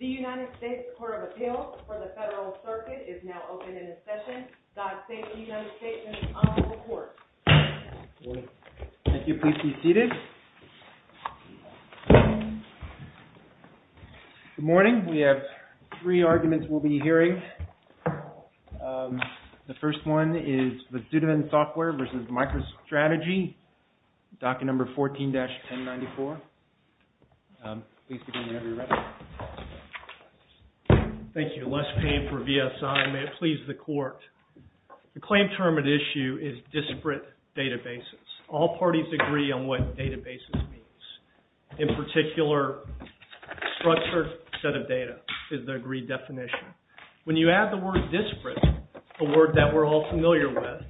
The United States Court of Appeals for the Federal Circuit is now open in session. Doc Sainz of the United States is now on the report. Good morning. Thank you. Please be seated. Good morning. We have three arguments we'll be hearing. The first one is Vasudevan Software v. Microstrategy, docket number 14-1094. Please begin whenever you're ready. Thank you. Les Payne for VSI. May it please the Court. The claim term at issue is disparate databases. All parties agree on what databases means. In particular, structured set of data is the agreed definition. When you add the word disparate, a word that we're all familiar with,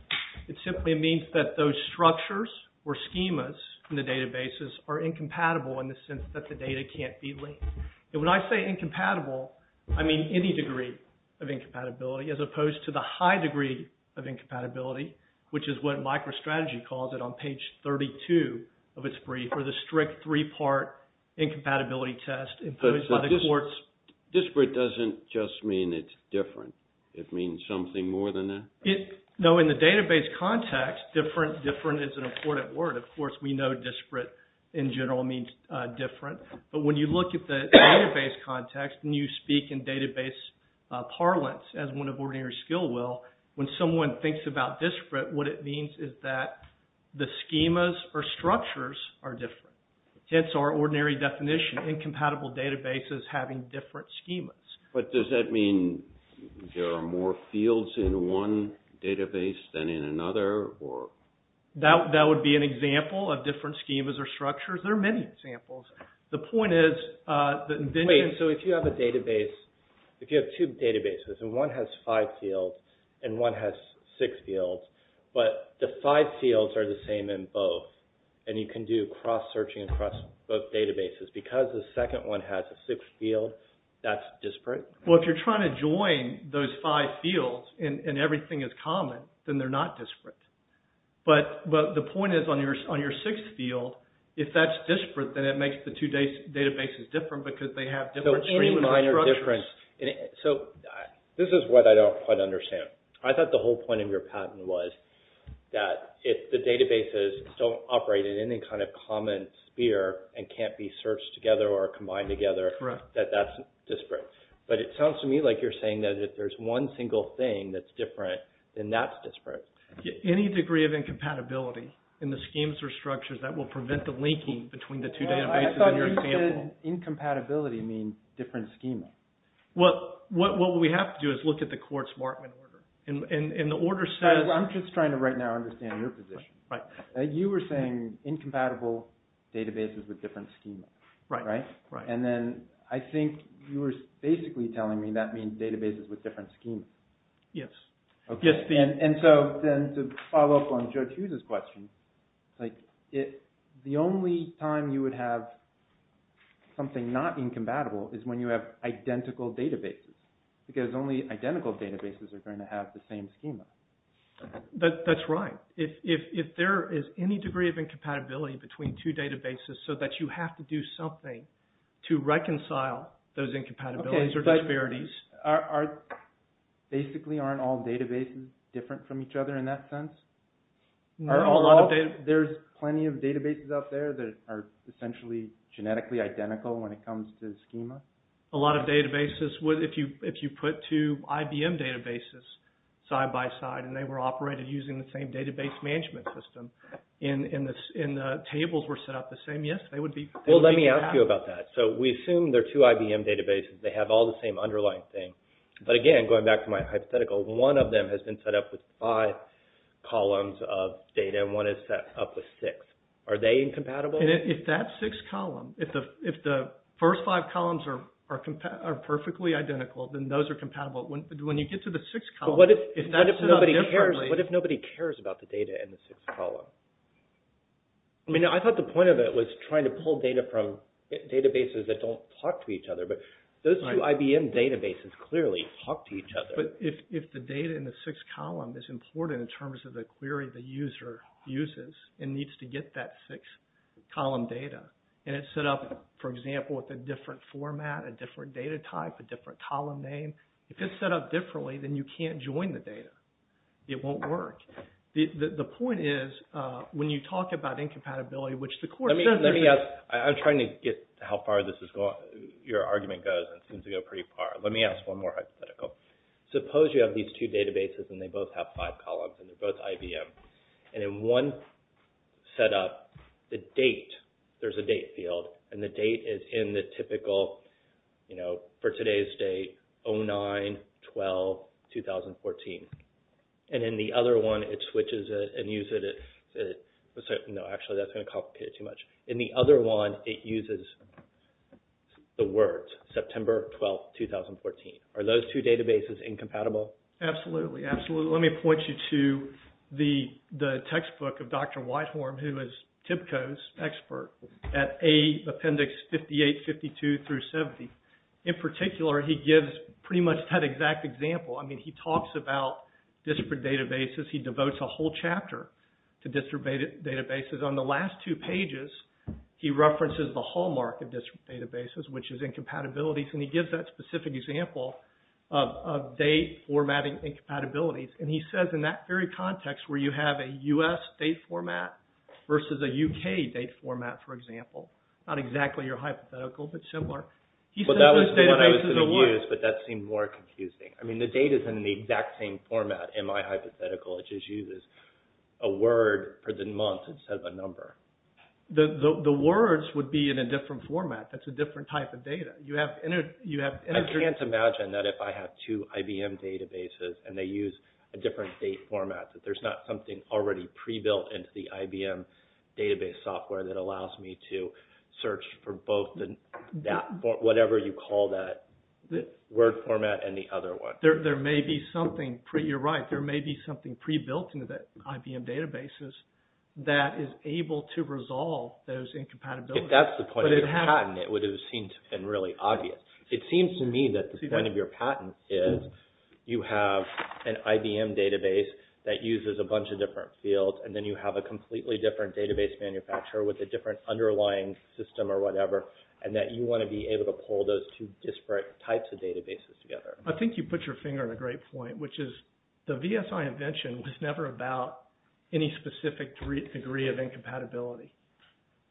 it simply means that those structures or schemas in the databases are incompatible in the sense that the data can't be linked. And when I say incompatible, I mean any degree of incompatibility as opposed to the high degree of incompatibility, which is what Microstrategy calls it on page 32 of its brief for the strict three-part incompatibility test imposed by the courts. Disparate doesn't just mean it's different. It means something more than that? No, in the database context, different is an important word. Of course, we know disparate in general means different. But when you look at the database context and you speak in database parlance as one of ordinary skill will, when someone thinks about disparate, what it means is that the schemas or structures are different. Hence our ordinary definition, incompatible databases having different schemas. But does that mean there are more fields in one database than in another? That would be an example of different schemas or structures. There are many examples. The point is that... Wait, so if you have a database, if you have two databases, and one has five fields and one has six fields, but the five fields are the same in both, and you can do cross-searching across both databases because the second one has a sixth field, that's disparate? Well, if you're trying to join those five fields and everything is common, then they're not disparate. But the point is, on your sixth field, if that's disparate, then it makes the two databases different because they have different schemas and structures. So, this is what I don't quite understand. I thought the whole point of your patent was that if the databases don't operate in any kind of common sphere and can't be searched together or combined together, that that's disparate. But it sounds to me like you're saying that if there's one single thing that's different, then that's disparate. Any degree of incompatibility in the schemes or structures that will prevent the linking between the two databases in your example? I thought you said incompatibility means different schemas. Well, what we have to do is look at the Quartz-Martin order. And the order says... I'm just trying to right now understand your position. You were saying incompatible databases with different schemas. And then I think you were basically telling me that means databases with different schemas. Yes. And so, to follow up on Judge Hughes' question, the only time you would have something not incompatible is when you have identical databases. Because only identical databases are going to have the same schema. That's right. If there is any degree of incompatibility between two databases so that you have to do something to reconcile those incompatibilities or disparities... Basically, aren't all databases different from each other in that sense? There's plenty of databases out there that are essentially genetically identical when it comes to schema. A lot of databases... If you put two IBM databases side by side and they were operated using the same database management system and the tables were set up the same, yes, they would be... Well, let me ask you about that. So, we assume there are two IBM databases. They have all the same underlying thing. But again, going back to my hypothetical, one of them has been set up with five columns of data and one is set up with six. Are they incompatible? If that six columns... are perfectly identical, then those are compatible. When you get to the six columns... But what if nobody cares about the data in the six columns? I mean, I thought the point of it was trying to pull data from databases that don't talk to each other. But those two IBM databases clearly talk to each other. But if the data in the six columns is important in terms of the query the user uses and needs to get that six-column data and it's set up, for example, with a different format, a different data type, a different column name, if it's set up differently, then you can't join the data. It won't work. The point is, when you talk about incompatibility, which the course... I'm trying to get how far this is going. Your argument goes and seems to go pretty far. Let me ask one more hypothetical. Suppose you have these two databases and they both have five columns and they're both IBM. And in one set up, the date, there's a date field. And the date is in the typical, you know, for today's date, 09-12-2014. And in the other one, it switches it and uses it... No, actually, that's going to complicate it too much. In the other one, it uses the words September 12, 2014. Are those two databases incompatible? Absolutely, absolutely. Let me point you to the textbook of Dr. Whitehorn, who is TIBCO's expert at Appendix 58-52-70. In particular, he gives pretty much that exact example. I mean, he talks about disparate databases. He devotes a whole chapter to disparate databases. On the last two pages, he references the hallmark of disparate databases, which is incompatibilities. And he gives that specific example of date formatting incompatibilities. And he says in that very context, where you have a U.S. date format versus a U.K. date format, for example. Not exactly your hypothetical, but similar. But that was the one I was going to use, but that seemed more confusing. I mean, the date is in the exact same format in my hypothetical. It just uses a word for the month instead of a number. The words would be in a different format. That's a different type of data. I can't imagine that if I have two IBM databases and they use a different date format that there's not something already pre-built into the IBM database software that allows me to search for both whatever you call that word format and the other one. You're right. There may be something pre-built into the IBM databases that is able to resolve those incompatibilities. If that's the point of your patent, it would have seemed to have been really obvious. It seems to me that the point of your patent is you have an IBM database that uses a bunch of different fields and then you have a completely different database manufacturer with a different underlying system or whatever and that you want to be able to pull those two disparate types of databases together. I think you put your finger on a great point, which is the VSI invention was never about any specific degree of incompatibility.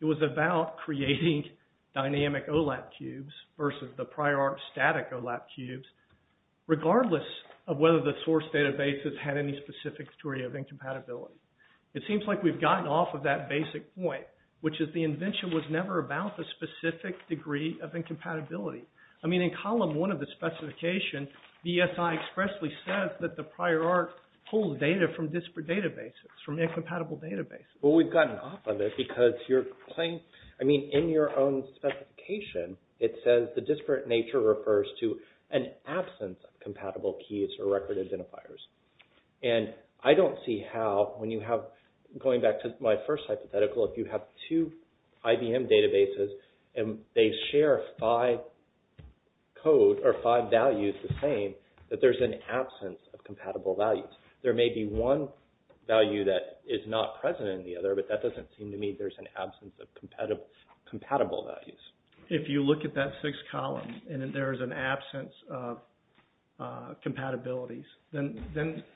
It was about creating dynamic OLAP cubes versus the prior art static OLAP cubes regardless of whether the source databases had any specific degree of incompatibility. It seems like we've gotten off of that basic point, which is the invention was never about the specific degree of incompatibility. I mean, in column one of the specification, VSI expressly says that the prior art pulled data from disparate databases, from incompatible databases. Well, we've gotten off of it because you're saying... I mean, in your own specification, it says the disparate nature refers to an absence of compatible keys or record identifiers. And I don't see how when you have... Going back to my first hypothetical, if you have two IBM databases and they share five code or five values the same, that there's an absence of compatible values. There may be one value that is not present in the other, but that doesn't seem to me there's an absence of compatible values. If you look at that six columns and there's an absence of compatibilities, then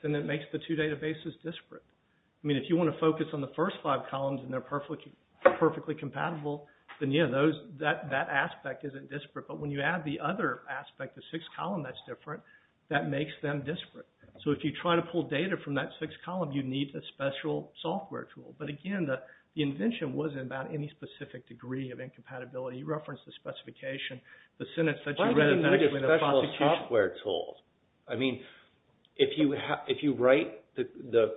it makes the two databases disparate. I mean, if you want to focus on the first five columns and they're perfectly compatible, then, yeah, that aspect isn't disparate. But when you add the other aspect, the sixth column that's different, that makes them disparate. So if you try to pull data from that sixth column, you need a special software tool. But again, the invention wasn't about any specific degree of incompatibility. You referenced the specification. Why would you need a special software tool? I mean, if you write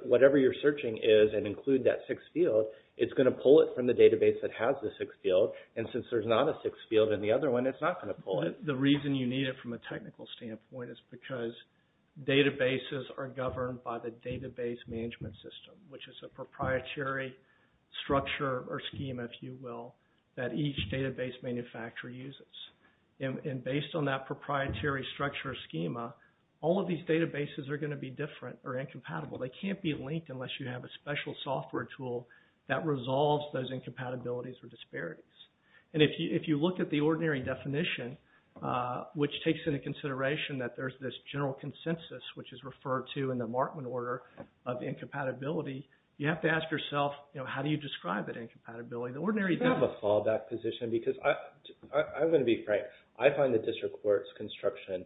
whatever you're searching is and include that sixth field, it's going to pull it from the database that has the sixth field. And since there's not a sixth field in the other one, it's not going to pull it. The reason you need it from a technical standpoint is because databases are governed by the database management system, which is a proprietary structure or scheme, if you will, that each database manufacturer uses. And based on that proprietary structure or schema, all of these databases are going to be different or incompatible. They can't be linked unless you have a special software tool that resolves those incompatibilities or disparities. And if you look at the ordinary definition, which takes into consideration that there's this general consensus, which is referred to in the Markman order of incompatibility, you have to ask yourself, how do you describe that incompatibility? The ordinary definition... I have a fallback position because I'm going to be frank. I find the district court's construction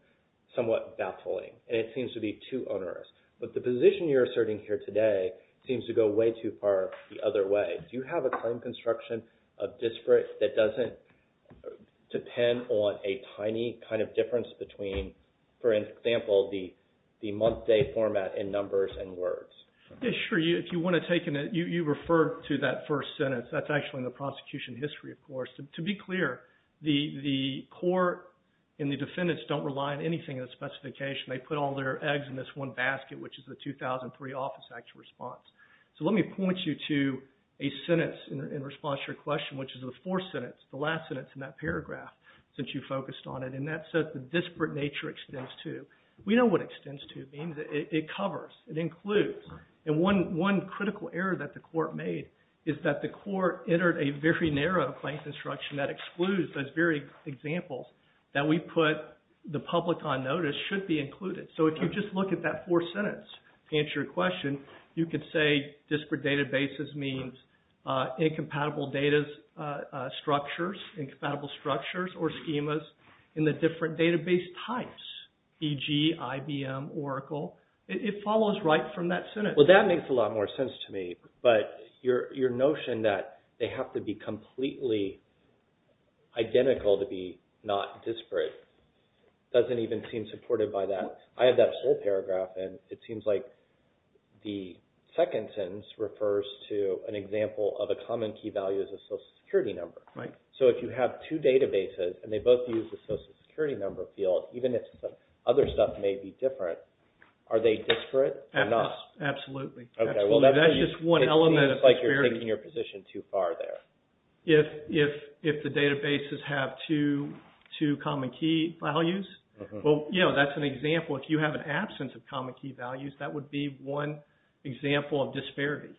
somewhat baffling. And it seems to be too onerous. But the position you're asserting here today seems to go way too far the other way. Do you have a claim construction of district that doesn't depend on a tiny kind of difference between, for example, the month-day format in numbers and words? Yeah, sure. You referred to that first sentence. That's actually in the prosecution history, of course. To be clear, the court and the defendants don't rely on anything in the specification. They put all their eggs in this one basket, which is the 2003 Office Act response. So let me point you to a sentence in response to your question, which is the fourth sentence, the last sentence in that paragraph, since you focused on it. And that says, the disparate nature extends to. We know what extends to means. It covers. It includes. And one critical error that the court made is that the court entered a very narrow claim construction that excludes those very examples that we put the public on notice should be included. So if you just look at that fourth sentence to answer your question, you could say disparate databases means incompatible data structures, incompatible structures or schemas in the different database types, e.g. IBM, Oracle. It follows right from that sentence. Well, that makes a lot more sense to me. But your notion that they have to be completely identical to be not disparate doesn't even seem supported by that. I have that whole paragraph and it seems like the second sentence refers to an example of a common key value as a social security number. So if you have two databases and they both use the social security number field, even if other stuff may be different, are they disparate or not? Absolutely. That's just one element of disparity. It seems like you're taking your position too far there. If the databases have two common key values, well, that's an example. If you have an absence of common key values, that would be one example of disparity.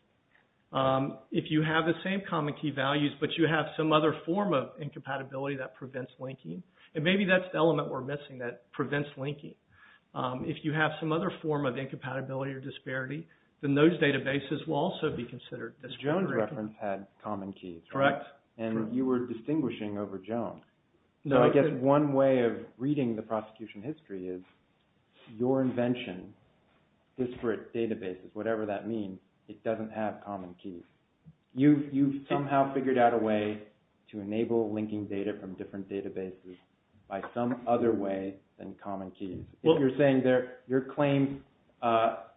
If you have the same common key values but you have some other form of incompatibility that prevents linking, and maybe that's the element we're missing that prevents linking. If you have some other form of incompatibility or disparity, then those databases will also be considered disparate. The Jones reference had common keys, correct? Correct. And you were distinguishing over Jones. So I guess one way of reading the prosecution history is your invention, disparate databases, whatever that means, it doesn't have common keys. You've somehow figured out a way to enable linking data from different databases by some other way than common keys. If you're saying your claim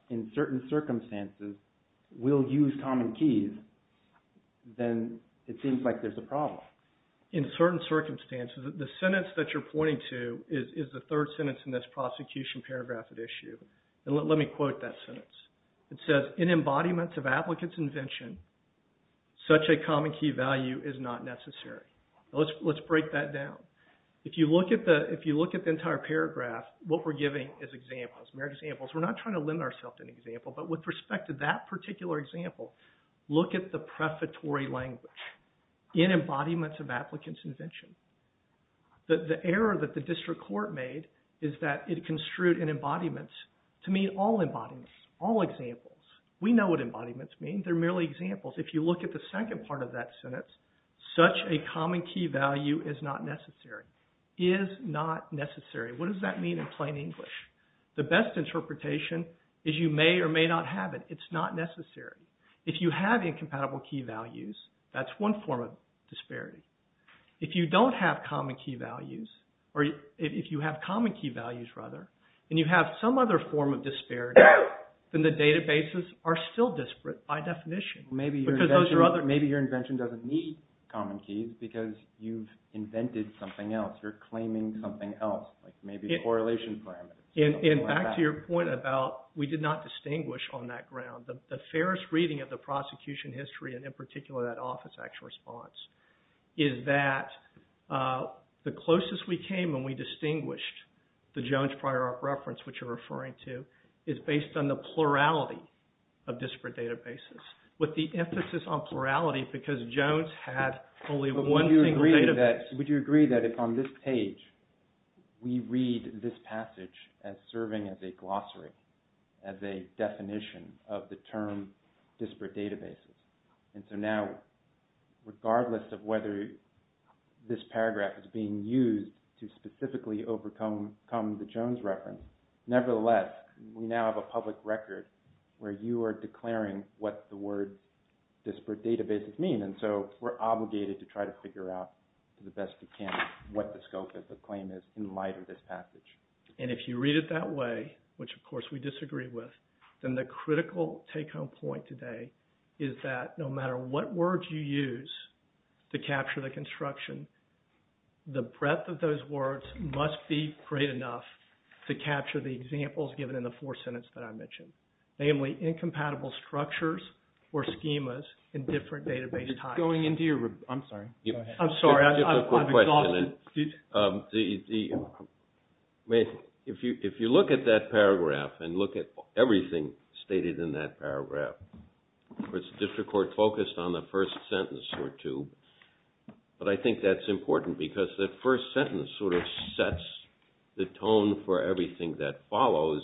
in certain circumstances will use common keys, then it seems like there's a problem. In certain circumstances, the sentence that you're pointing to is the third sentence in this prosecution paragraph at issue. Let me quote that sentence. It says, In embodiments of applicants' invention, such a common key value is not necessary. Let's break that down. If you look at the entire paragraph, what we're giving is examples. We're not trying to lend ourselves to an example, but with respect to that particular example, look at the prefatory language. In embodiments of applicants' invention. The error that the district court made is that it construed in embodiments to mean all embodiments, all examples. We know what embodiments mean. They're merely examples. If you look at the second part of that sentence, such a common key value is not necessary. Is not necessary. What does that mean in plain English? The best interpretation is you may or may not have it. It's not necessary. If you have incompatible key values, that's one form of disparity. If you don't have common key values, or if you have common key values, rather, and you have some other form of disparity, then the databases are still disparate by definition. Maybe your invention doesn't need common keys because you've invented something else. You're claiming something else, like maybe correlation parameters. And back to your point about we did not distinguish on that ground. The fairest reading of the prosecution history, and in particular that Office Act response, is that the closest we came when we distinguished the Jones-Prioroff reference, which you're referring to, is based on the plurality of disparate databases. With the emphasis on plurality because Jones had only one single database. Would you agree that if on this page we read this passage as serving as a glossary, as a definition of the term disparate databases, and so now regardless of whether this paragraph is being used to specifically overcome the Jones reference, nevertheless, we now have a public record where you are declaring what the word disparate databases mean. And so we're obligated to try to figure out the best we can what the scope of the claim is in light of this passage. And if you read it that way, which of course we disagree with, then the critical take-home point today is that no matter what words you use to capture the construction, the breadth of those words must be great enough to capture the examples given in the fourth sentence that I mentioned. Namely, incompatible structures or schemas in different database types. I'm sorry, go ahead. I'm sorry, I'm exhausted. If you look at that paragraph and look at everything stated in that paragraph, the District Court focused on the first sentence or two, but I think that's important because that first sentence sort of sets the tone for everything that follows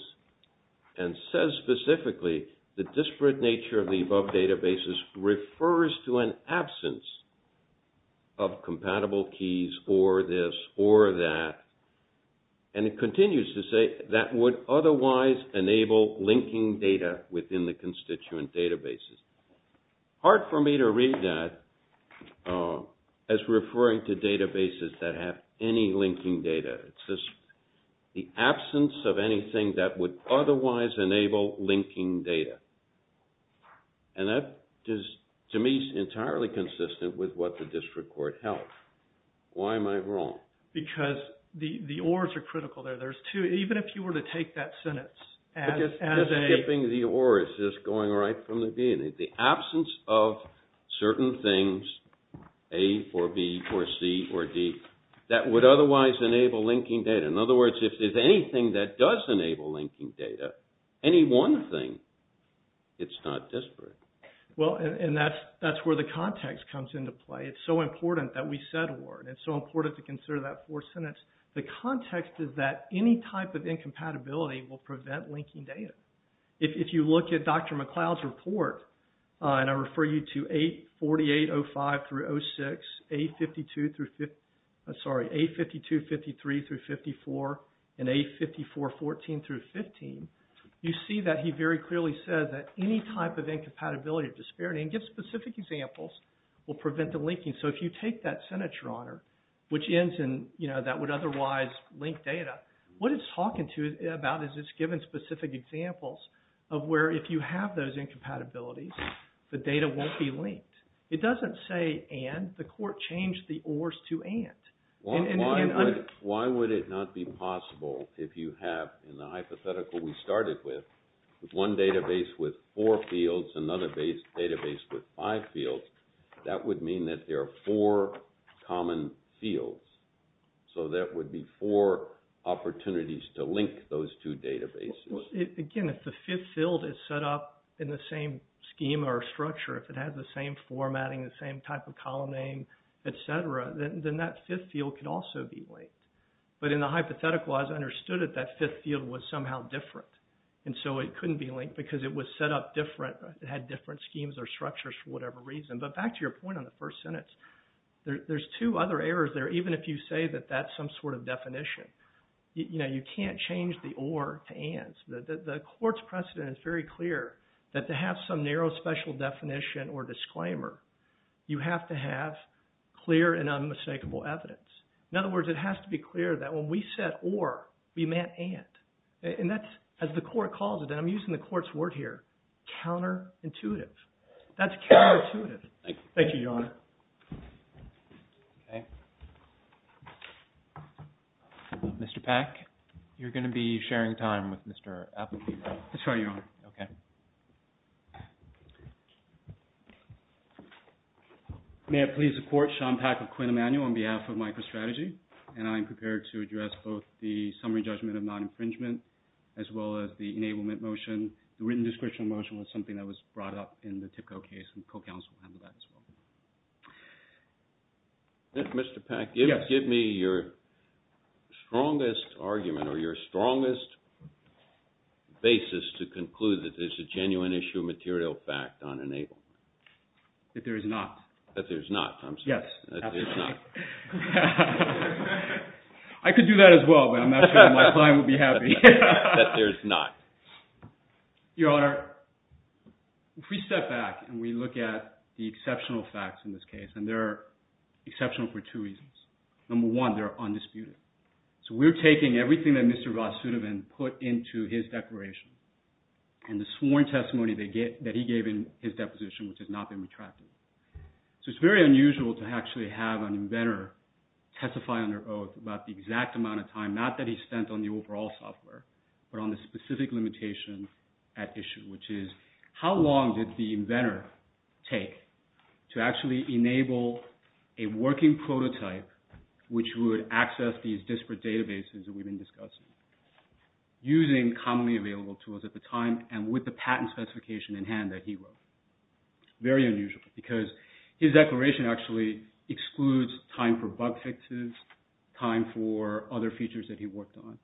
and says specifically, the disparate nature of the above databases refers to an absence of compatible keys or this or that. And it continues to say that would otherwise enable linking data within the constituent databases. Hard for me to read that as referring to databases that have any linking data. It's just the absence of anything that would otherwise enable linking data. And that, to me, is entirely consistent with what the District Court held. Why am I wrong? Because the ors are critical there. There's two. Even if you were to take that sentence as a... It's skipping the or. It's just going right from the beginning. The absence of certain things, A for B for C for D, that would otherwise enable linking data. In other words, if there's anything that does enable linking data, any one thing, it's not disparate. Well, and that's where the context comes into play. It's so important that we said or. It's so important to consider that fourth sentence. The context is that any type of incompatibility will prevent linking data. If you look at Dr. McLeod's report, and I refer you to A4805 through 06, A52-53 through 54, and A54-14 through 15, you see that he very clearly said that any type of incompatibility or disparity, and give specific examples, will prevent the linking. So if you take that sentence, Your Honor, which ends in, you know, that would otherwise link data, what it's talking to you about is it's giving specific examples of where if you have those incompatibilities, the data won't be linked. It doesn't say and. The court changed the ors to and. Why would it not be possible if you have, in the hypothetical we started with, one database with four fields, another database with five fields, that would mean that there are four common fields. So that would be four opportunities to link those two databases. Again, if the fifth field is set up in the same scheme or structure, if it has the same formatting, the same type of column name, et cetera, then that fifth field could also be linked. But in the hypothetical, as I understood it, that fifth field was somehow different. And so it couldn't be linked because it was set up different, it had different schemes or structures for whatever reason. But back to your point on the first sentence, there's two other errors there, even if you say that that's some sort of definition. You know, you can't change the or to ands. The court's precedent is very clear that to have some narrow special definition or disclaimer, you have to have clear and unmistakable evidence. In other words, it has to be clear that when we said or, we meant and. And that's, as the court calls it, and I'm using the court's word here, counterintuitive. That's counterintuitive. Thank you, Your Honor. Okay. Mr. Peck, you're going to be sharing time with Mr. Appletee, right? That's right, Your Honor. Okay. May it please the court, Sean Peck of Quinn Emanuel on behalf of MicroStrategy, and I am prepared to address both the summary judgment of non-infringement as well as the enablement motion. The written description motion was something that was brought up in the Tipco case, and the co-counsel handled that as well. Mr. Peck, give me your strongest argument or your strongest basis to conclude that there's a genuine issue of material fact on enablement. That there is not. That there's not, I'm sorry. Yes, absolutely. That there's not. I could do that as well, but I'm not sure my client would be happy. That there's not. Your Honor, if we step back and we look at the exceptional facts in this case, and they're exceptional for two reasons. Number one, they're undisputed. So we're taking everything that Mr. Rasutovan put into his declaration and the sworn testimony that he gave in his deposition which has not been retracted. So it's very unusual to actually have an inventor testify under oath about the exact amount of time, not that he spent on the overall software, but on the specific limitation at issue, which is how long did the inventor take to actually enable a working prototype which would access these disparate databases that we've been discussing using commonly available tools at the time and with the patent specification in hand that he wrote. Very unusual because his declaration actually excludes time for bug fixes, time for other features that he worked on.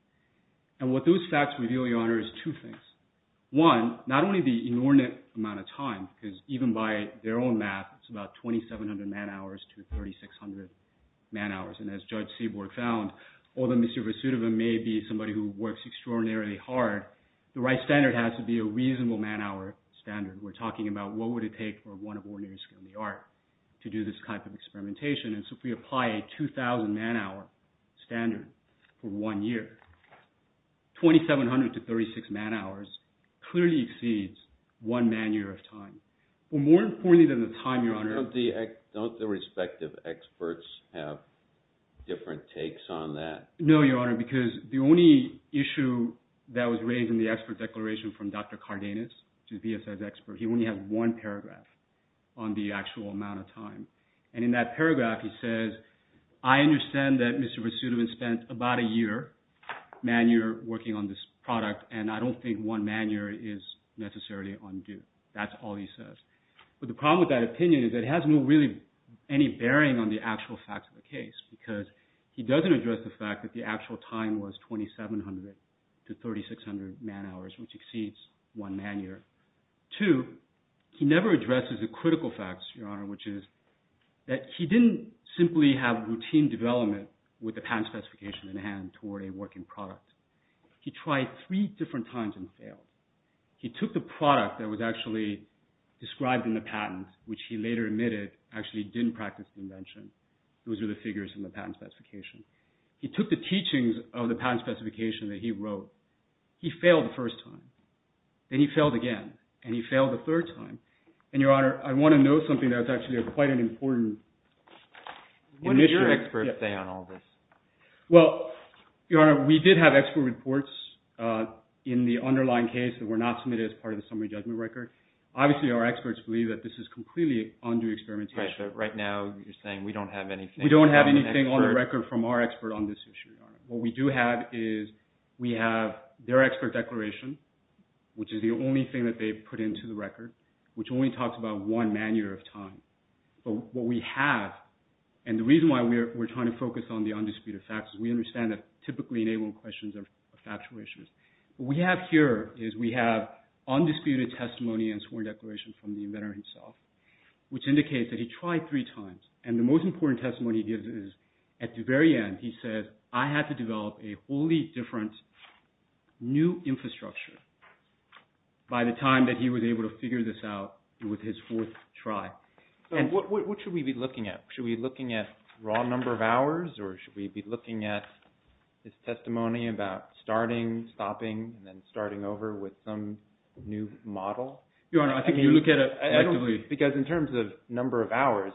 And what those facts reveal, Your Honor, is two things. One, not only the inordinate amount of time because even by their own math, it's about 2,700 man hours to 3,600 man hours. And as Judge Seaborg found, although Mr. Rasutovan may be somebody who works extraordinarily hard, the right standard has to be a reasonable man hour standard. We're talking about what would it take for one of ordinary skill in the art to do this type of experimentation. And so if we apply a 2,000 man hour standard for one year, 2,700 to 3,600 man hours clearly exceeds one man year of time. But more importantly than the time, Your Honor... Don't the respective experts have different takes on that? No, Your Honor, because the only issue that was raised in the expert declaration from Dr. Cardenas, who's BSS expert, he only has one paragraph on the actual amount of time. And in that paragraph, he says, I understand that Mr. Rasutovan spent about a year, man year, working on this product, and I don't think one man year is necessarily undue. That's all he says. But the problem with that opinion is it has no really any bearing on the actual facts of the case because he doesn't address the fact that the actual time was 2,700 to 3,600 man hours, which exceeds one man year. Two, he never addresses the critical facts, Your Honor, which is that he didn't simply have routine development with the patent specification in hand toward a working product. He tried three different times and failed. He took the product that was actually described in the patent, which he later admitted actually didn't practice the invention. Those are the figures in the patent specification. He took the teachings of the patent specification that he wrote. He failed the first time. Then he failed again. And he failed the third time. And, Your Honor, I want to know something that's actually quite an important initiative. What did your experts say on all this? Well, Your Honor, we did have expert reports in the underlying case that were not submitted as part of the summary judgment record. Obviously, our experts believe that this is completely undue experimentation. Right now, you're saying we don't have anything We don't have anything on the record from our expert on this issue. What we do have is we have their expert declaration, which is the only thing that they put into the record, which only talks about one man year of time. But what we have, and the reason why we're trying to focus on the undisputed facts is we understand that typically enabling questions are factual issues. What we have here is we have undisputed testimony and sworn declaration from the inventor himself, which indicates that he tried three times. And the most important testimony he gives is, at the very end, he says, I had to develop a wholly different new infrastructure by the time that he was able to figure this out with his fourth try. What should we be looking at? Should we be looking at raw number of hours, or should we be looking at his testimony about starting, stopping, and then starting over with some new model? Your Honor, I think you look at it actively. Because in terms of number of hours,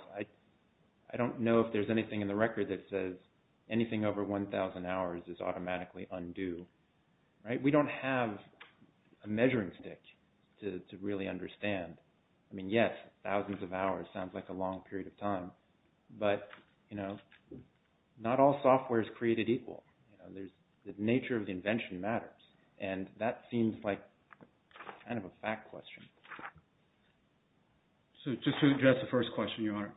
I don't know if there's anything in the record that says anything over 1,000 hours is automatically undue. Right? We don't have a measuring stick to really understand. I mean, yes, thousands of hours sounds like a long period of time. But, you know, not all software is created equal. The nature of the invention matters. And that seems like kind of a fact question. So just to address the first question, Your Honor,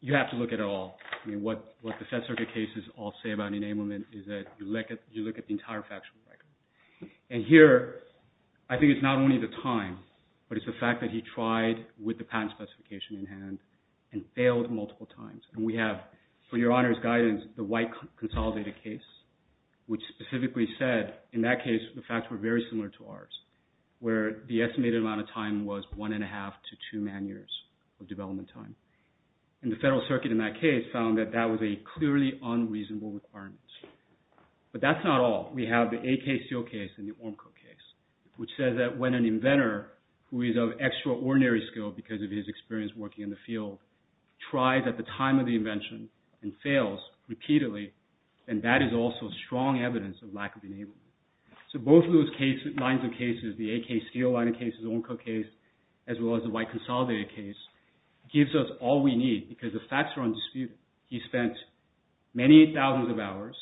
you have to look at it all. I mean, what the Fed Circuit cases all say about enablement is that you look at the entire factual record. And here, I think it's not only the time, but it's the fact that he tried with the patent specification in hand and failed multiple times. And we have, for Your Honor's guidance, the white consolidated case, which specifically said, in that case, the facts were very similar to ours, where the estimated amount of time was one and a half to two man years of development time. And the Federal Circuit in that case found that that was a clearly unreasonable requirement. But that's not all. We have the AKCO case and the Ormco case, which says that when an inventor who is of extraordinary skill because of his experience working in the field tries at the time of the invention and fails repeatedly, then that is also strong evidence of lack of enablement. So both of those cases, lines of cases, the AKCO line of cases, the Ormco case, as well as the white consolidated case, gives us all we need because the facts are undisputed. He spent many thousands of hours.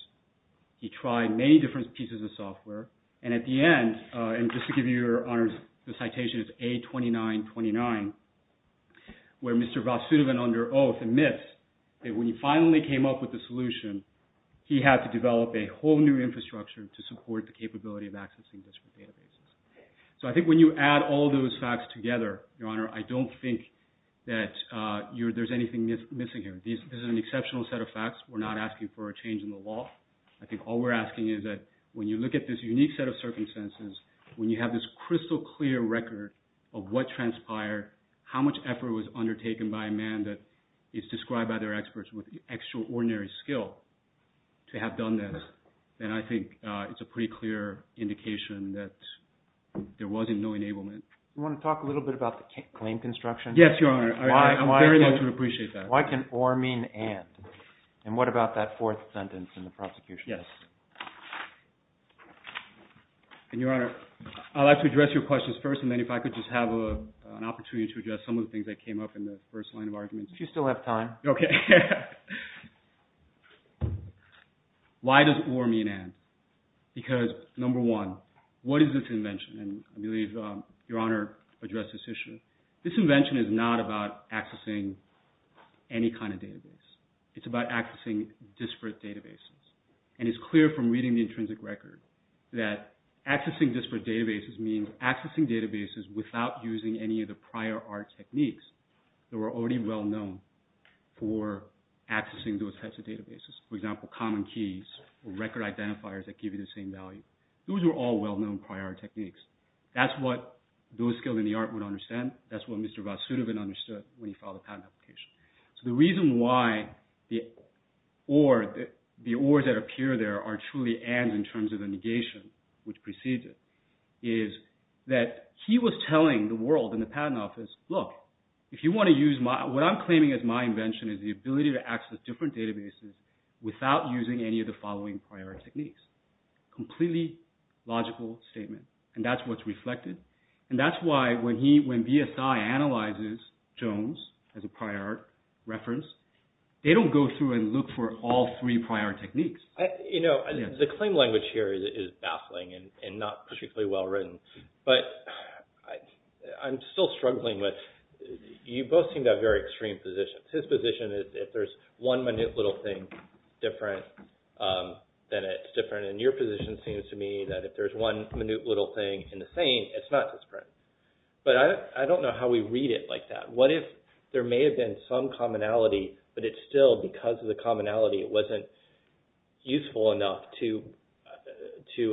He tried many different pieces of software. And at the end, and just to give you Your Honor's citation, it's A2929, where Mr. Vasudevan, under oath, admits that when he finally came up with the solution, he had to develop a whole new infrastructure to support the capability of accessing different databases. So I think when you add all those facts together, Your Honor, I don't think that there's anything missing here. This is an exceptional set of facts. We're not asking for a change in the law. I think all we're asking is that when you look at this unique set of circumstances, when you have this crystal clear record of what transpired, how much effort was undertaken by a man that is described by their experts with extraordinary skill to have done this, then I think it's a pretty clear indication that there wasn't no enablement. You want to talk a little bit about the claim construction? Yes, Your Honor. I'm very much going to appreciate that. Why can or mean and? And what about that fourth sentence in the prosecution? Yes. And Your Honor, I'd like to address your questions first, and then if I could just have an opportunity to address some of the things that came up in the first line of arguments. If you still have time. Okay. Why does or mean and? Because number one, what is this invention? And I believe Your Honor addressed this issue. This invention is not about accessing any kind of database. It's about accessing disparate databases. And it's clear from reading the intrinsic record that accessing disparate databases means accessing databases without using any of the prior art techniques that were already well known for accessing those types of databases. For example, common keys or record identifiers that give you the same value. Those were all well-known prior art techniques. That's what those skilled in the art would understand. That's what Mr. Vasudevan understood when he filed a patent application. So the reason why the ors that appear there are truly ands in terms of the negation which precedes it is that he was telling the world in the patent office, look, if you want to use my, what I'm claiming as my invention is the ability to access different databases without using any of the following prior art techniques. Completely logical statement. And that's what's reflected. And that's why when he, when BSI analyzes Jones as a prior art reference, they don't go through and look for all three prior art techniques. You know, the claim language here is baffling and not particularly well-written. But I'm still struggling with, you both seem to have very extreme positions. His position is if there's one minute little thing different then it's different. And your position seems to me that if there's one minute little thing in the same, it's not disparate. But I don't know how we read it like that. What if there may have been some commonality but it's still because of the commonality it wasn't useful enough to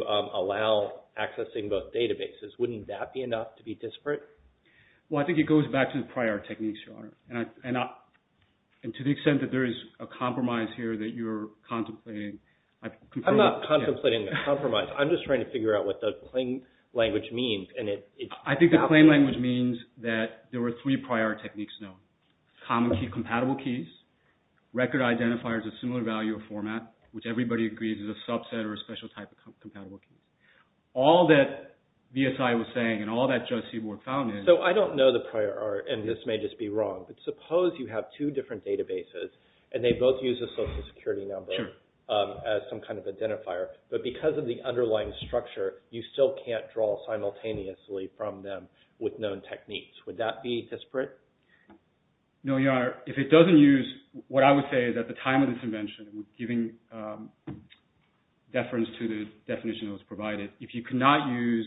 allow accessing both databases. Wouldn't that be enough to be disparate? Well, I think it goes back to the prior art techniques, Your Honor. And to the extent that there is a compromise here that you're contemplating. I'm not contemplating a compromise. I'm just trying to figure out what the claim language means. I think the claim language means that there were three prior art techniques known. Common key, compatible keys, record identifiers of similar value or format, which everybody agrees is a subset or a special type of compatible key. All that BSI was saying and all that Judge Seaborg found is... So I don't know the prior art and this may just be wrong. But suppose you have two different databases and they both use a social security number as some kind of identifier. But because of the underlying structure you still can't draw simultaneously from them with known techniques. Would that be disparate? No, Your Honor. If it doesn't use... What I would say is at the time of this invention giving deference to the definition that was provided. If you could not use...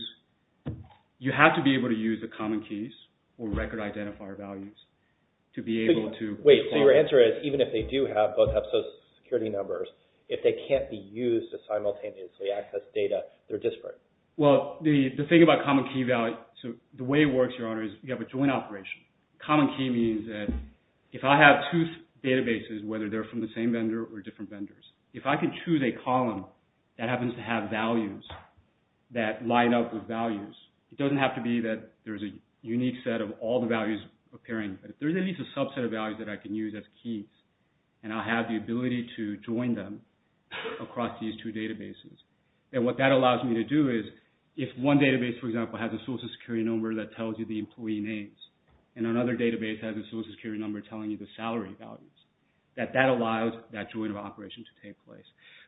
You have to be able to use the common keys or record identifier values to be able to... Wait, so your answer is even if they do have... both have social security numbers if they can't be used to simultaneously access data they're disparate. Well, the thing about common key value... So the way it works, Your Honor, is you have a joint operation. Common key means that if I have two databases whether they're from the same vendor or different vendors. If I can choose a column that happens to have values that line up with values it doesn't have to be that there's a unique set of all the values appearing but if there's at least a subset of values that I can use as keys and I have the ability to join them across these two databases then what that allows me to do is if one database, for example, has a social security number that tells you the employee names and another database has a social security number telling you the salary values that that allows that joint operation to take place.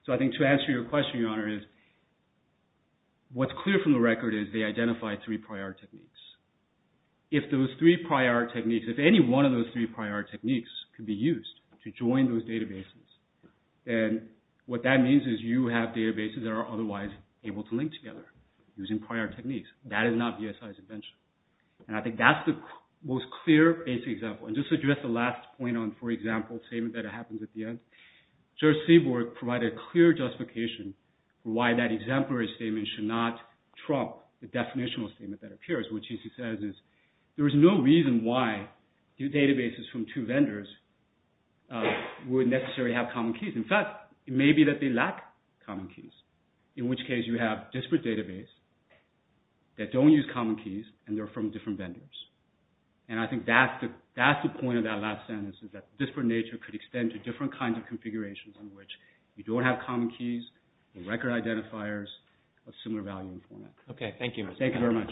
So I think to answer your question, Your Honor, is what's clear from the record is they identify three prior techniques. If those three prior techniques, if any one of those three prior techniques can be used to join those databases then what that means is you have databases that are otherwise able to link together using prior techniques. That is not BSI's invention. And I think that's the most clear basic example. And just to address the last point on, for example, the statement that happens at the end, George Seaborg provided a clear justification why that exemplary statement should not trump the definitional statement that appears. What he says is there is no reason why databases from two vendors would necessarily have common keys. In fact, it may be that they lack common keys, in which case you have disparate database that don't use common keys and they're from different vendors. And I think that's the point of that last sentence is that disparate nature could extend to different kinds of configurations in which you don't have common keys, record identifiers, of similar value and format. Okay, thank you. Thank you very much.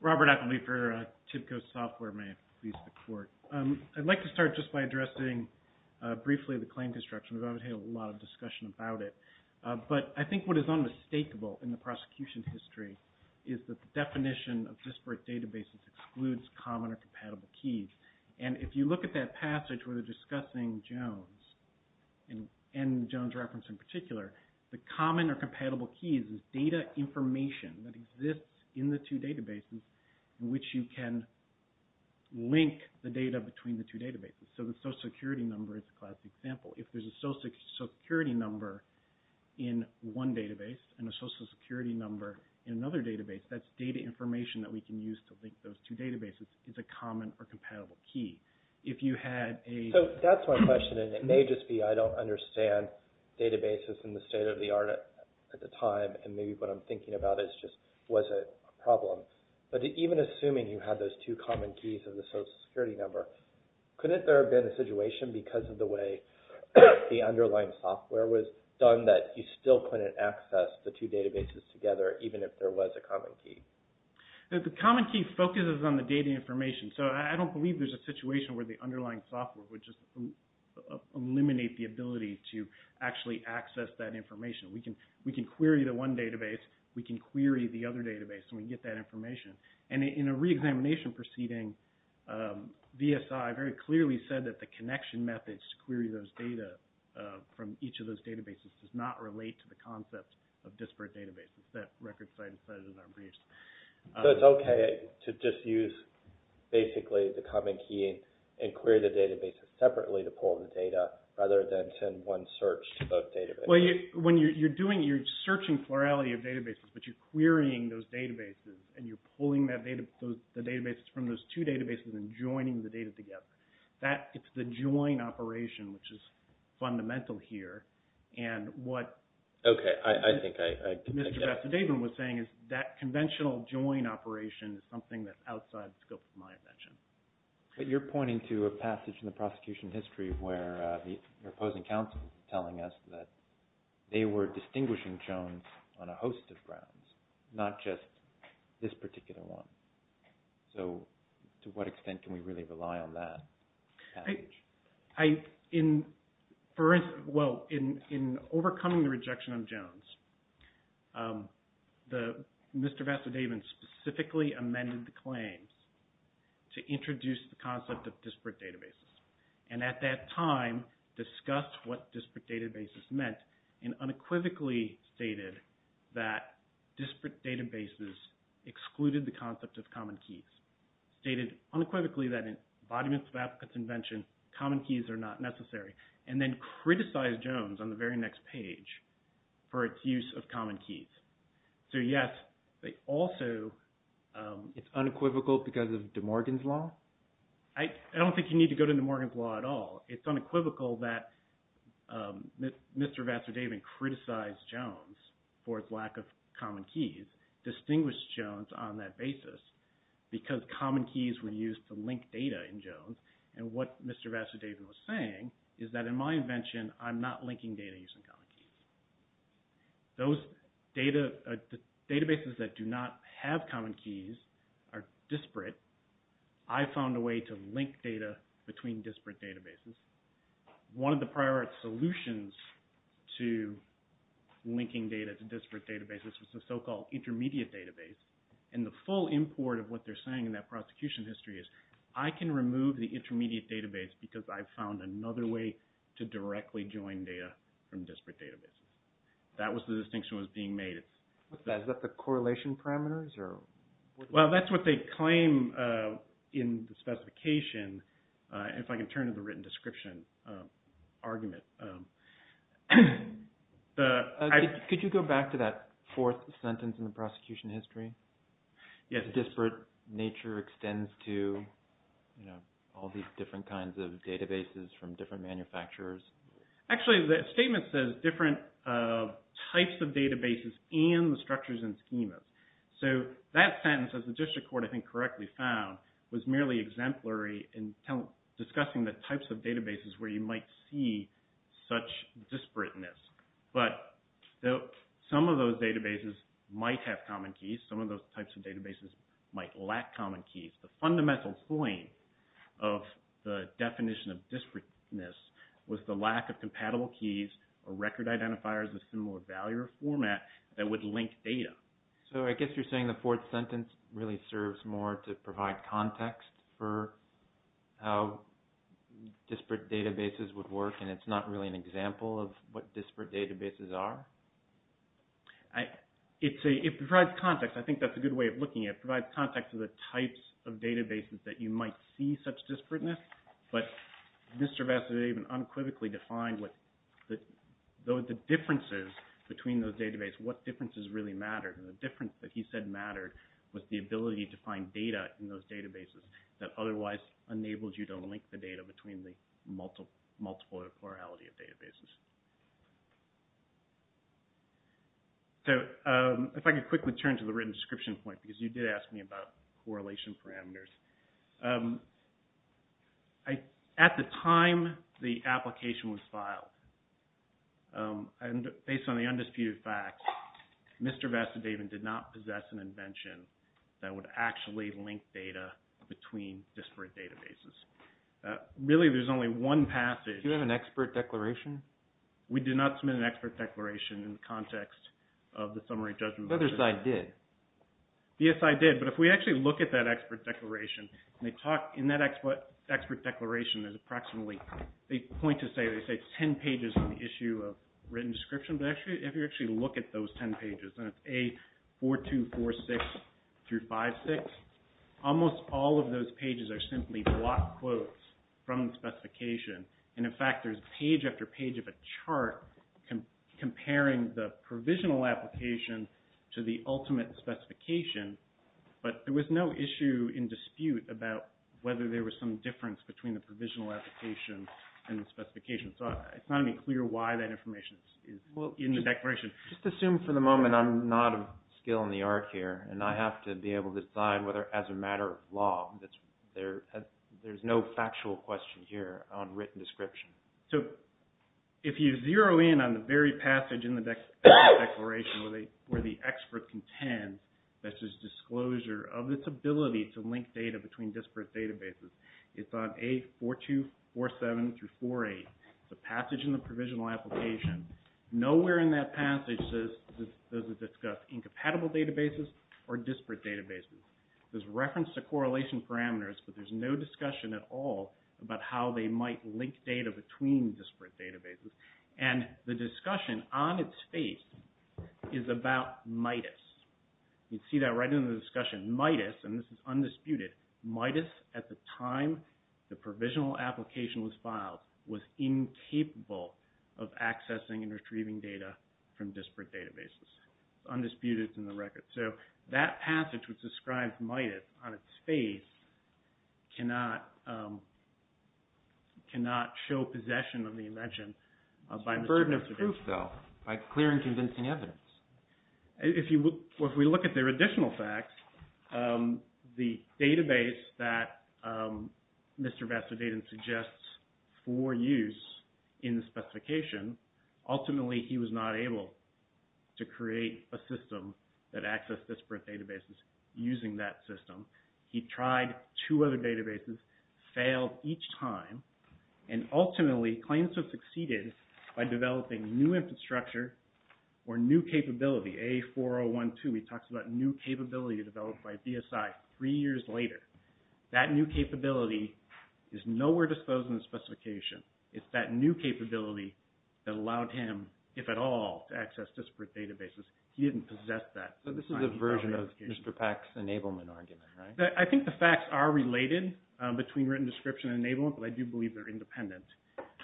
Robert Ackleby for TIBCO Software. May it please the Court. I'd like to start just by addressing briefly the claim construction. We've obviously had a lot of discussion about it. But I think what is unmistakable in the prosecution's history is that the definition of disparate databases excludes common or compatible keys. And if you look at that passage where they're discussing Jones and Jones reference in particular, the common or compatible keys is data information that exists in the two databases in which you can link the data between the two databases. So the social security number is a classic example. If there's a social security number in one database and a social security number in another database, that data information that we can use to link those two databases is a common or compatible key. If you had a... So that's my question. And it may just be I don't understand databases in the state of the art at the time. And maybe what I'm thinking about is just was it a problem? But even assuming you had those two common keys of the social security number, couldn't there have been a situation because of the way the underlying software was done that you still couldn't access the two databases together even if there was a common key? The common key focuses on the data information. So I don't believe there's a situation where the underlying software would just eliminate the ability to actually access that information. We can query the one database. We can query the other database and we can get that information. And in a reexamination proceeding, VSI very clearly said that the connection methods to query those data from each of those databases does not relate to the concept of disparate databases. That record site says in our briefs. So it's okay to just use basically the common key and query the databases separately to pull the data rather than send one search to both databases? Well, when you're doing it, you're searching plurality of databases, but you're querying those databases and you're pulling the databases from those two databases and joining the data together. It's the join operation which is fundamental here and what... Okay, I think I get it. What Mr. Vasudevan was saying is that conventional join operation is something that's outside the scope of my invention. But you're pointing to a passage in the prosecution history where the opposing counsel was telling us that they were distinguishing Jones on a host of grounds, not just this particular one. So to what extent can we really rely on that? I... In... For instance... Well, in overcoming the rejection of Jones, Mr. Vasudevan specifically amended the claims to introduce the concept of disparate databases and at that time discussed what disparate databases meant and unequivocally stated that disparate databases excluded the concept of common keys. Stated unequivocally that in embodiments of applicants' invention, common keys are not necessary and then criticized Jones on the very next page for its use of common keys. So yes, they also... It's unequivocal because of DeMorgan's Law? I don't think you need to go to DeMorgan's Law at all. It's unequivocal that Mr. Vasudevan criticized Jones for its lack of common keys, distinguished Jones on that basis because common keys were used to link data in Jones and what Mr. Vasudevan was saying is that in my invention I'm not linking data using common keys. Those databases that do not have common keys are disparate. I found a way to link data between disparate databases. One of the prior solutions to linking data to disparate databases was the so-called intermediate database and the full import of what they're saying in that prosecution history is I can remove the intermediate database because I found another way to directly join data from disparate databases. That was the distinction that was being made. Is that the correlation parameters? Well, that's what they claim in the specification. If I can turn to the written description argument. Could you go back to that fourth sentence in the prosecution history? Yes. Disparate nature extends to all these different kinds of databases from different manufacturers. Actually, the statement says different types of databases and the structures and schemas. That sentence, as the district court I think correctly found, was merely exemplary in discussing the types of databases where you might see such disparateness. Some of those databases might have common keys. Some of those types of databases might lack common keys. The fundamental point of the definition of disparateness was the lack of compatible keys or record identifiers of similar value or format that would link data. I guess you're saying the fourth sentence really serves more to provide context for how disparate databases would work and it's not really an example of what disparate databases are? It provides context. I think that's a good way of looking at it. It provides context to the types of databases that you might see such disparateness, but Mr. Vest unequivocally defined what the differences between those databases, what differences really mattered and the difference that he said mattered was the ability to find data in those databases that otherwise enabled you to link the data between the multiple or plurality of databases. If I could quickly turn to the written description point because you did ask me about correlation parameters. At the time the application was filed, based on the undisputed fact, Mr. Vest and David did not possess an invention that would actually link data between disparate databases. Really there's only one passage. Do you have an expert declaration? We did not submit an expert declaration in the context of the summary judgment. The other side did. Yes I did, but if we actually look at that expert declaration and they talk in that expert declaration there's approximately they point to say they say 10 pages on the issue of written description, but if you actually look at those 10 pages and it's A4246-56, almost all of those pages are simply block quotes from the specification and in fact there's page after page of a chart comparing the provisional application to the ultimate specification, but there was no issue in dispute about whether there was some difference between the provisional application and the specification. So it's not any clear why that information is in the declaration. Just assume for the moment I'm not a skill in the art here and I have to be able to decide whether as a matter of law there's no factual question here on written description. So if you zero in on the very passage in the declaration where the expert contends that there's disclosure of this ability to link data between disparate databases, it's on A4247-48, the passage in the provisional application. Nowhere in that passage does it discuss incompatible databases or disparate databases. There's reference to correlation parameters, but there's no discussion at all about how they might link data between disparate databases and the discussion on its face is about MIDUS. You can see that right in the discussion. MIDUS, and this is undisputed, MIDUS at the time the provisional application was filed was incapable of accessing and retrieving data from disparate databases. It's undisputed in the record. So that passage which describes MIDUS on its face cannot show possession of the invention by a burden of proof. By clear and convincing evidence. If we look at their additional facts, the database that Mr. Vastavadin suggests for use in the specification, ultimately he was not able to create a system that accessed disparate databases using that system. He tried two other databases, failed each time, and ultimately he claims to have succeeded by developing new infrastructure or new capability, A4012, he talks about new capability developed by BSI three years later. That new capability is nowhere disclosed in the specification. It's that new capability that allowed him, if at all, to access disparate databases. He didn't possess that. So this is a version of Mr. Pack's enablement argument, right? I think the facts are related between written description and enablement, but I do believe they're independent.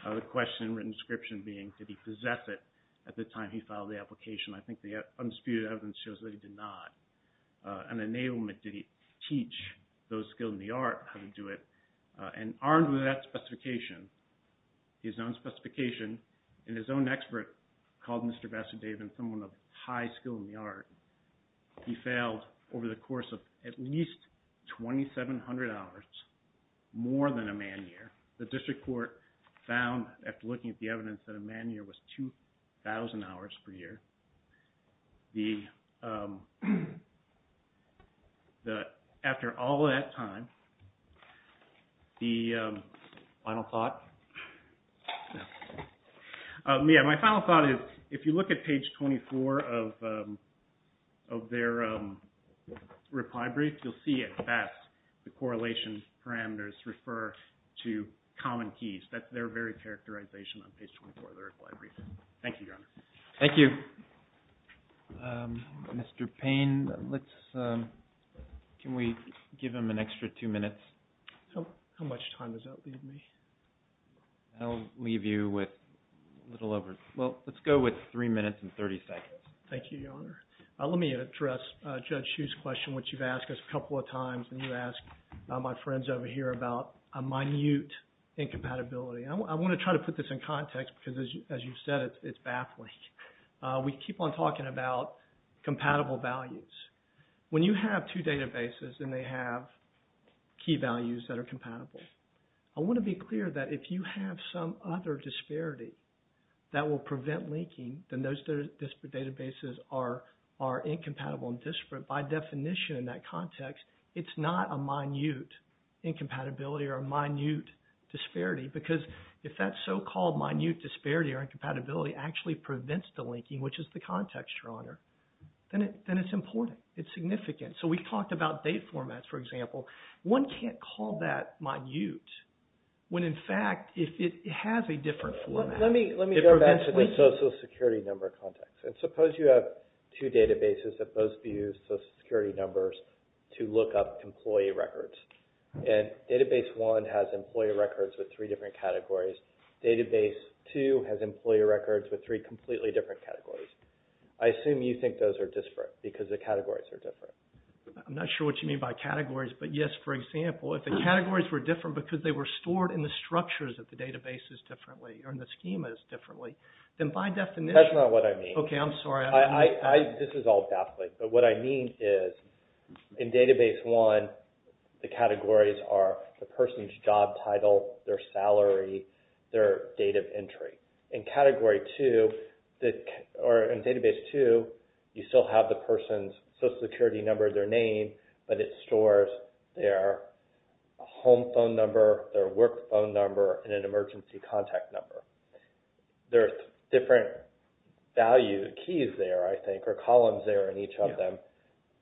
The question in written description being, did he possess it at the time he filed the application? I think the unspecified evidence shows that he did not. In enablement, did he teach those skilled in the art how to do it? And armed with that specification, his own specification, and his own expert called Mr. Vastavadin someone of high skill in the art, he failed over the course of at least 2,700 hours, more than a man year. The district court found, after looking at the evidence, that a man year was 2,000 hours per year. After all that time, the final thought... My final thought is, if you look at page 24 of their reply brief, you'll see at best the correlation parameters refer to common keys. That's their very characterization on page 24 of their reply brief. Thank you, Your Honor. Thank you. Mr. Payne, let's... Can we give him an extra two minutes? How much time does that leave me? That'll leave you with a little over... Well, let's go and 30 seconds. Thank you, Your Honor. Let me address Judge Hsu's question which you've asked us a couple of times and you've asked my friends over here about a minute incompatibility. I want to try to put this in context because, as you've said, it's baffling. We keep on talking about compatible values. When you have two databases and they have key values that are compatible, I want to be clear that if you have some other disparity that will prevent linking, then those databases are incompatible and disparate. By definition, in that context, it's not a minute incompatibility or a minute disparity because if that so-called minute disparity or incompatibility actually prevents the linking, which is the context, Your Honor, then it's important. It's significant. So we've talked about date formats, for example. One can't call that minute when, in fact, it has a different format. Let me go back to the social security number context. Suppose you have two databases that both use social security numbers to look up employee records. And database one has employee records with three different categories. Database two has employee records with three completely different categories. I assume you think those are disparate because the categories are different. I'm not sure what you mean by categories, but yes, for example, if the categories were different because they were stored in the structures of the databases differently or in the schemas differently, then by definition That's not what I mean. Okay, I'm sorry. This is all baffling, but what I mean is in database one, the categories are the person's job title, their salary, their date of entry. In category two, or in database two, you still have the person's social security number, their name, but it stores their home phone number, their work phone number, and an emergency contact number. There are different values, keys there, I think, or columns there in each of them,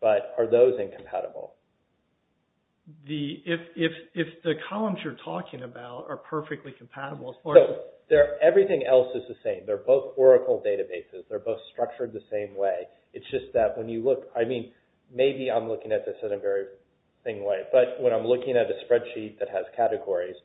but are those incompatible? If the columns you're talking about are perfectly compatible, as far as... Everything else is the same. They're both Oracle databases. They're both structured the same way. It's just that when you look, I mean, maybe I'm looking at this in a very thing way, but when I'm looking at a spreadsheet that has categories,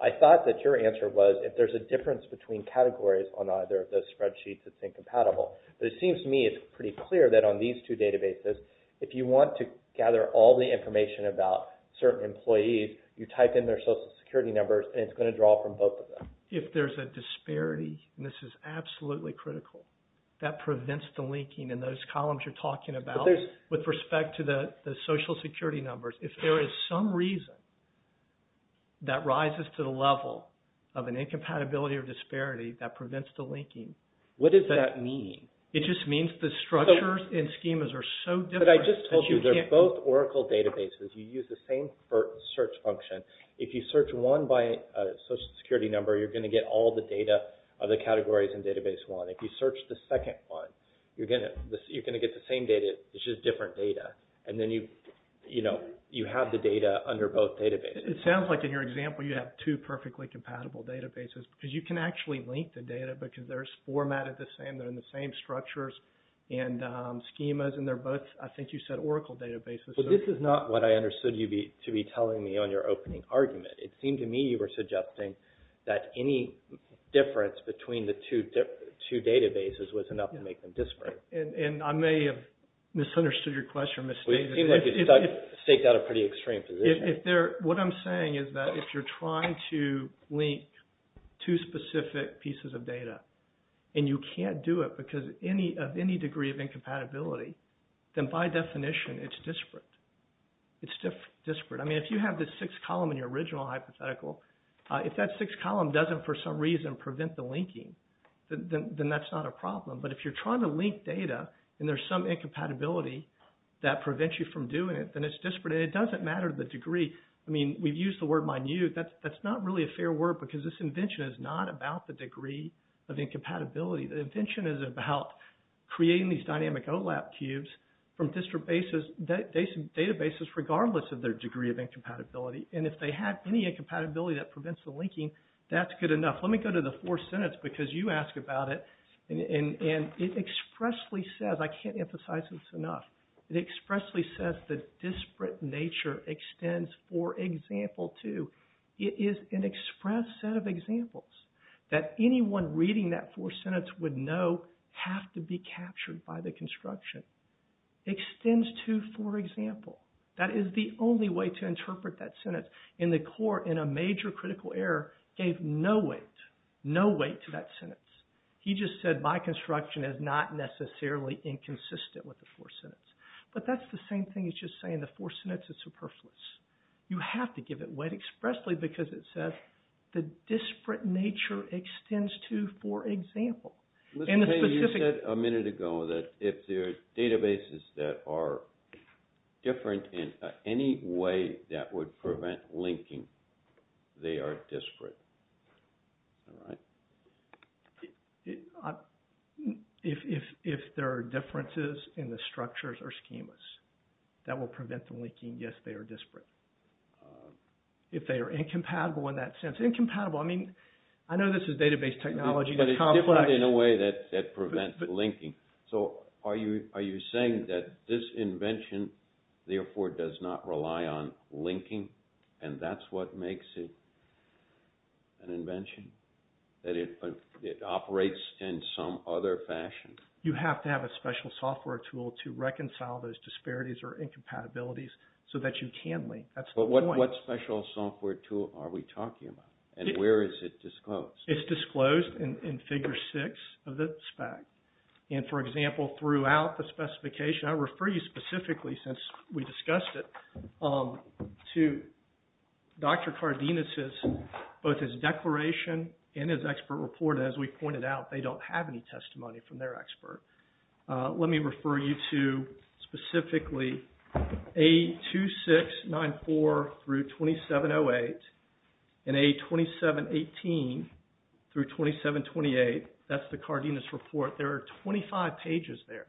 I thought that your answer was if there's a difference between categories on either of those spreadsheets, it's incompatible. But it seems to me it's pretty clear that on these two databases, if you want to gather all the information about certain employees, you type in their social security numbers, and it's going to draw from both of them. If there's a disparity, and this is absolutely critical, that prevents the linking in those columns you're talking about with respect to the social security numbers. If there is some reason that rises to the level of an incompatibility or disparity, that prevents the linking. What does that mean? It just means the structures and schemas are so different. But I just told you they're both Oracle databases. You use the same search function. If you search one by social security number, you're going to get all the data of the categories in database one. If you search the second one, you're going to get the same data, it's just different data. And then you have the data under both databases. It sounds like in your example you have two perfectly compatible databases because you can actually link the data because they're formatted the same, they're in the same structures and schemas and they're both, I think you said, Oracle databases. But this is not what I understood you to be telling me on your opening argument. It seemed to me you were suggesting that any difference between the two databases was enough to make them disparate. And I may have misunderstood your question. It seems like you've staked out a pretty extreme position. What I'm saying is that if you're trying to link two specific people and you can't do it because of any degree of incompatibility, then by definition it's disparate. It's disparate. I mean, if you have this six column in your original hypothetical, if that six column doesn't for some reason prevent the linking, then that's not a problem. But if you're trying to link data and there's some incompatibility that prevents you from doing it, then it's disparate and it doesn't matter the degree. I mean, we've used the word minute. That's not really a fair word because this invention is not about the degree of incompatibility. The invention is about creating these dynamic OLAP cubes from district databases regardless of their degree of incompatibility. And if they have any incompatibility that prevents the linking, that's good enough. Let me go to the fourth sentence because you asked about it. And it expressly says, I can't emphasize this enough, it expressly says that disparate nature extends for example too. It is an express set of examples that anyone reading that fourth sentence would know have to be captured by the construction. Extends to for example. That is the only way to interpret that sentence. In the court, in a major critical error, gave no weight, no weight to that sentence. He just said my construction is not necessarily inconsistent with the fourth sentence. But that's the same thing as just saying the fourth sentence is superfluous. You have to give it that expressly because it says the disparate nature extends to for example. Mr. Payne, you said a minute ago that if there are databases that are different in any way that would prevent linking, they are disparate. If there are differences in the structures or schemas that will prevent the linking, yes, they are disparate. If they are incompatible in that sense. Incompatible, I mean, I know this is database technology. But it's different in a way that prevents linking. So are you saying that this invention therefore does not rely on linking and that's what makes it an invention? That it operates in some other fashion? You have to have a special software tool to reconcile those disparities or incompatibilities so that you can link. That's the point. What special software tool are we talking about? And where is it disclosed? It's disclosed in figure six of the spec. And for example, throughout the specification, I refer you specifically since we discussed it, to Dr. Cardenas' both his declaration and his expert report as we pointed out, they don't have any testimony from their expert. Let me refer you to specifically A2694-2708 and A2718-2728. That's the Cardenas report. There are 25 pages there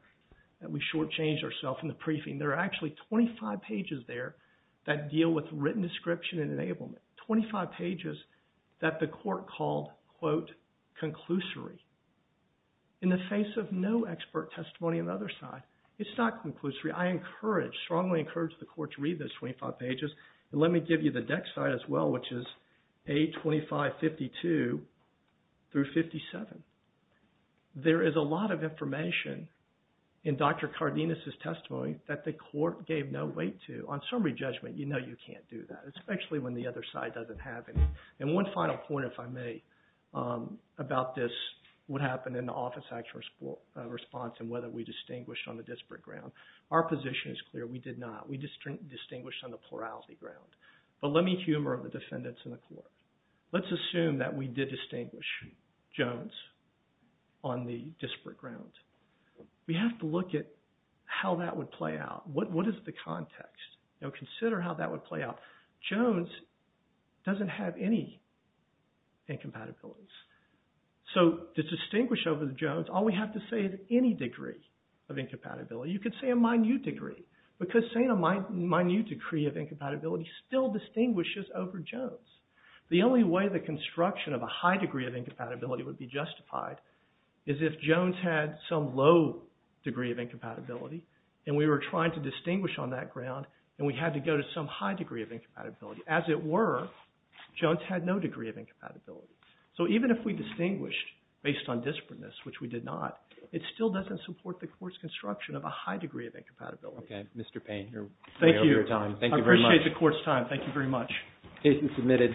that we shortchanged ourselves in the briefing. There are actually 25 pages there that deal with written description and enablement. 25 pages that the court called quote, conclusory. In the face of no expert testimony on the other side, it's not conclusory. I encourage, strongly encourage the court to read those 25 pages. And let me give you the deck side as well which is A2552-57. There is a lot of information in Dr. Cardenas' testimony that the court gave no weight to. On summary judgment, you know you can't do that especially when the other side doesn't have any. And one final point, if I may, about this, what happened in the Office Action Response and whether we distinguished on the disparate ground. Our position is clear. We did not. We distinguished on the plurality ground. But let me humor the defendants in the court. Let's assume that we did distinguish Jones on the disparate ground. We have to look at how that would play out. What is the context? Now consider how that would play out. Jones doesn't have any incompatibilities. So to distinguish over the Jones, all we have to say is any degree of incompatibility. You could say a minute degree because saying a minute degree of incompatibility still distinguishes over Jones. The only way the construction of a high degree of incompatibility would be justified is if Jones had some low degree of incompatibility and we were trying to distinguish on that ground and we had to go to some high degree of incompatibility. As it were, Jones had no degree of incompatibility. So even if we distinguished based on disparateness, which we did not, it still doesn't support the court's construction of a high degree of incompatibility. Okay, Mr. Payne, you're way over your time. Thank you. I appreciate the court's time. Thank you very much. Case is submitted.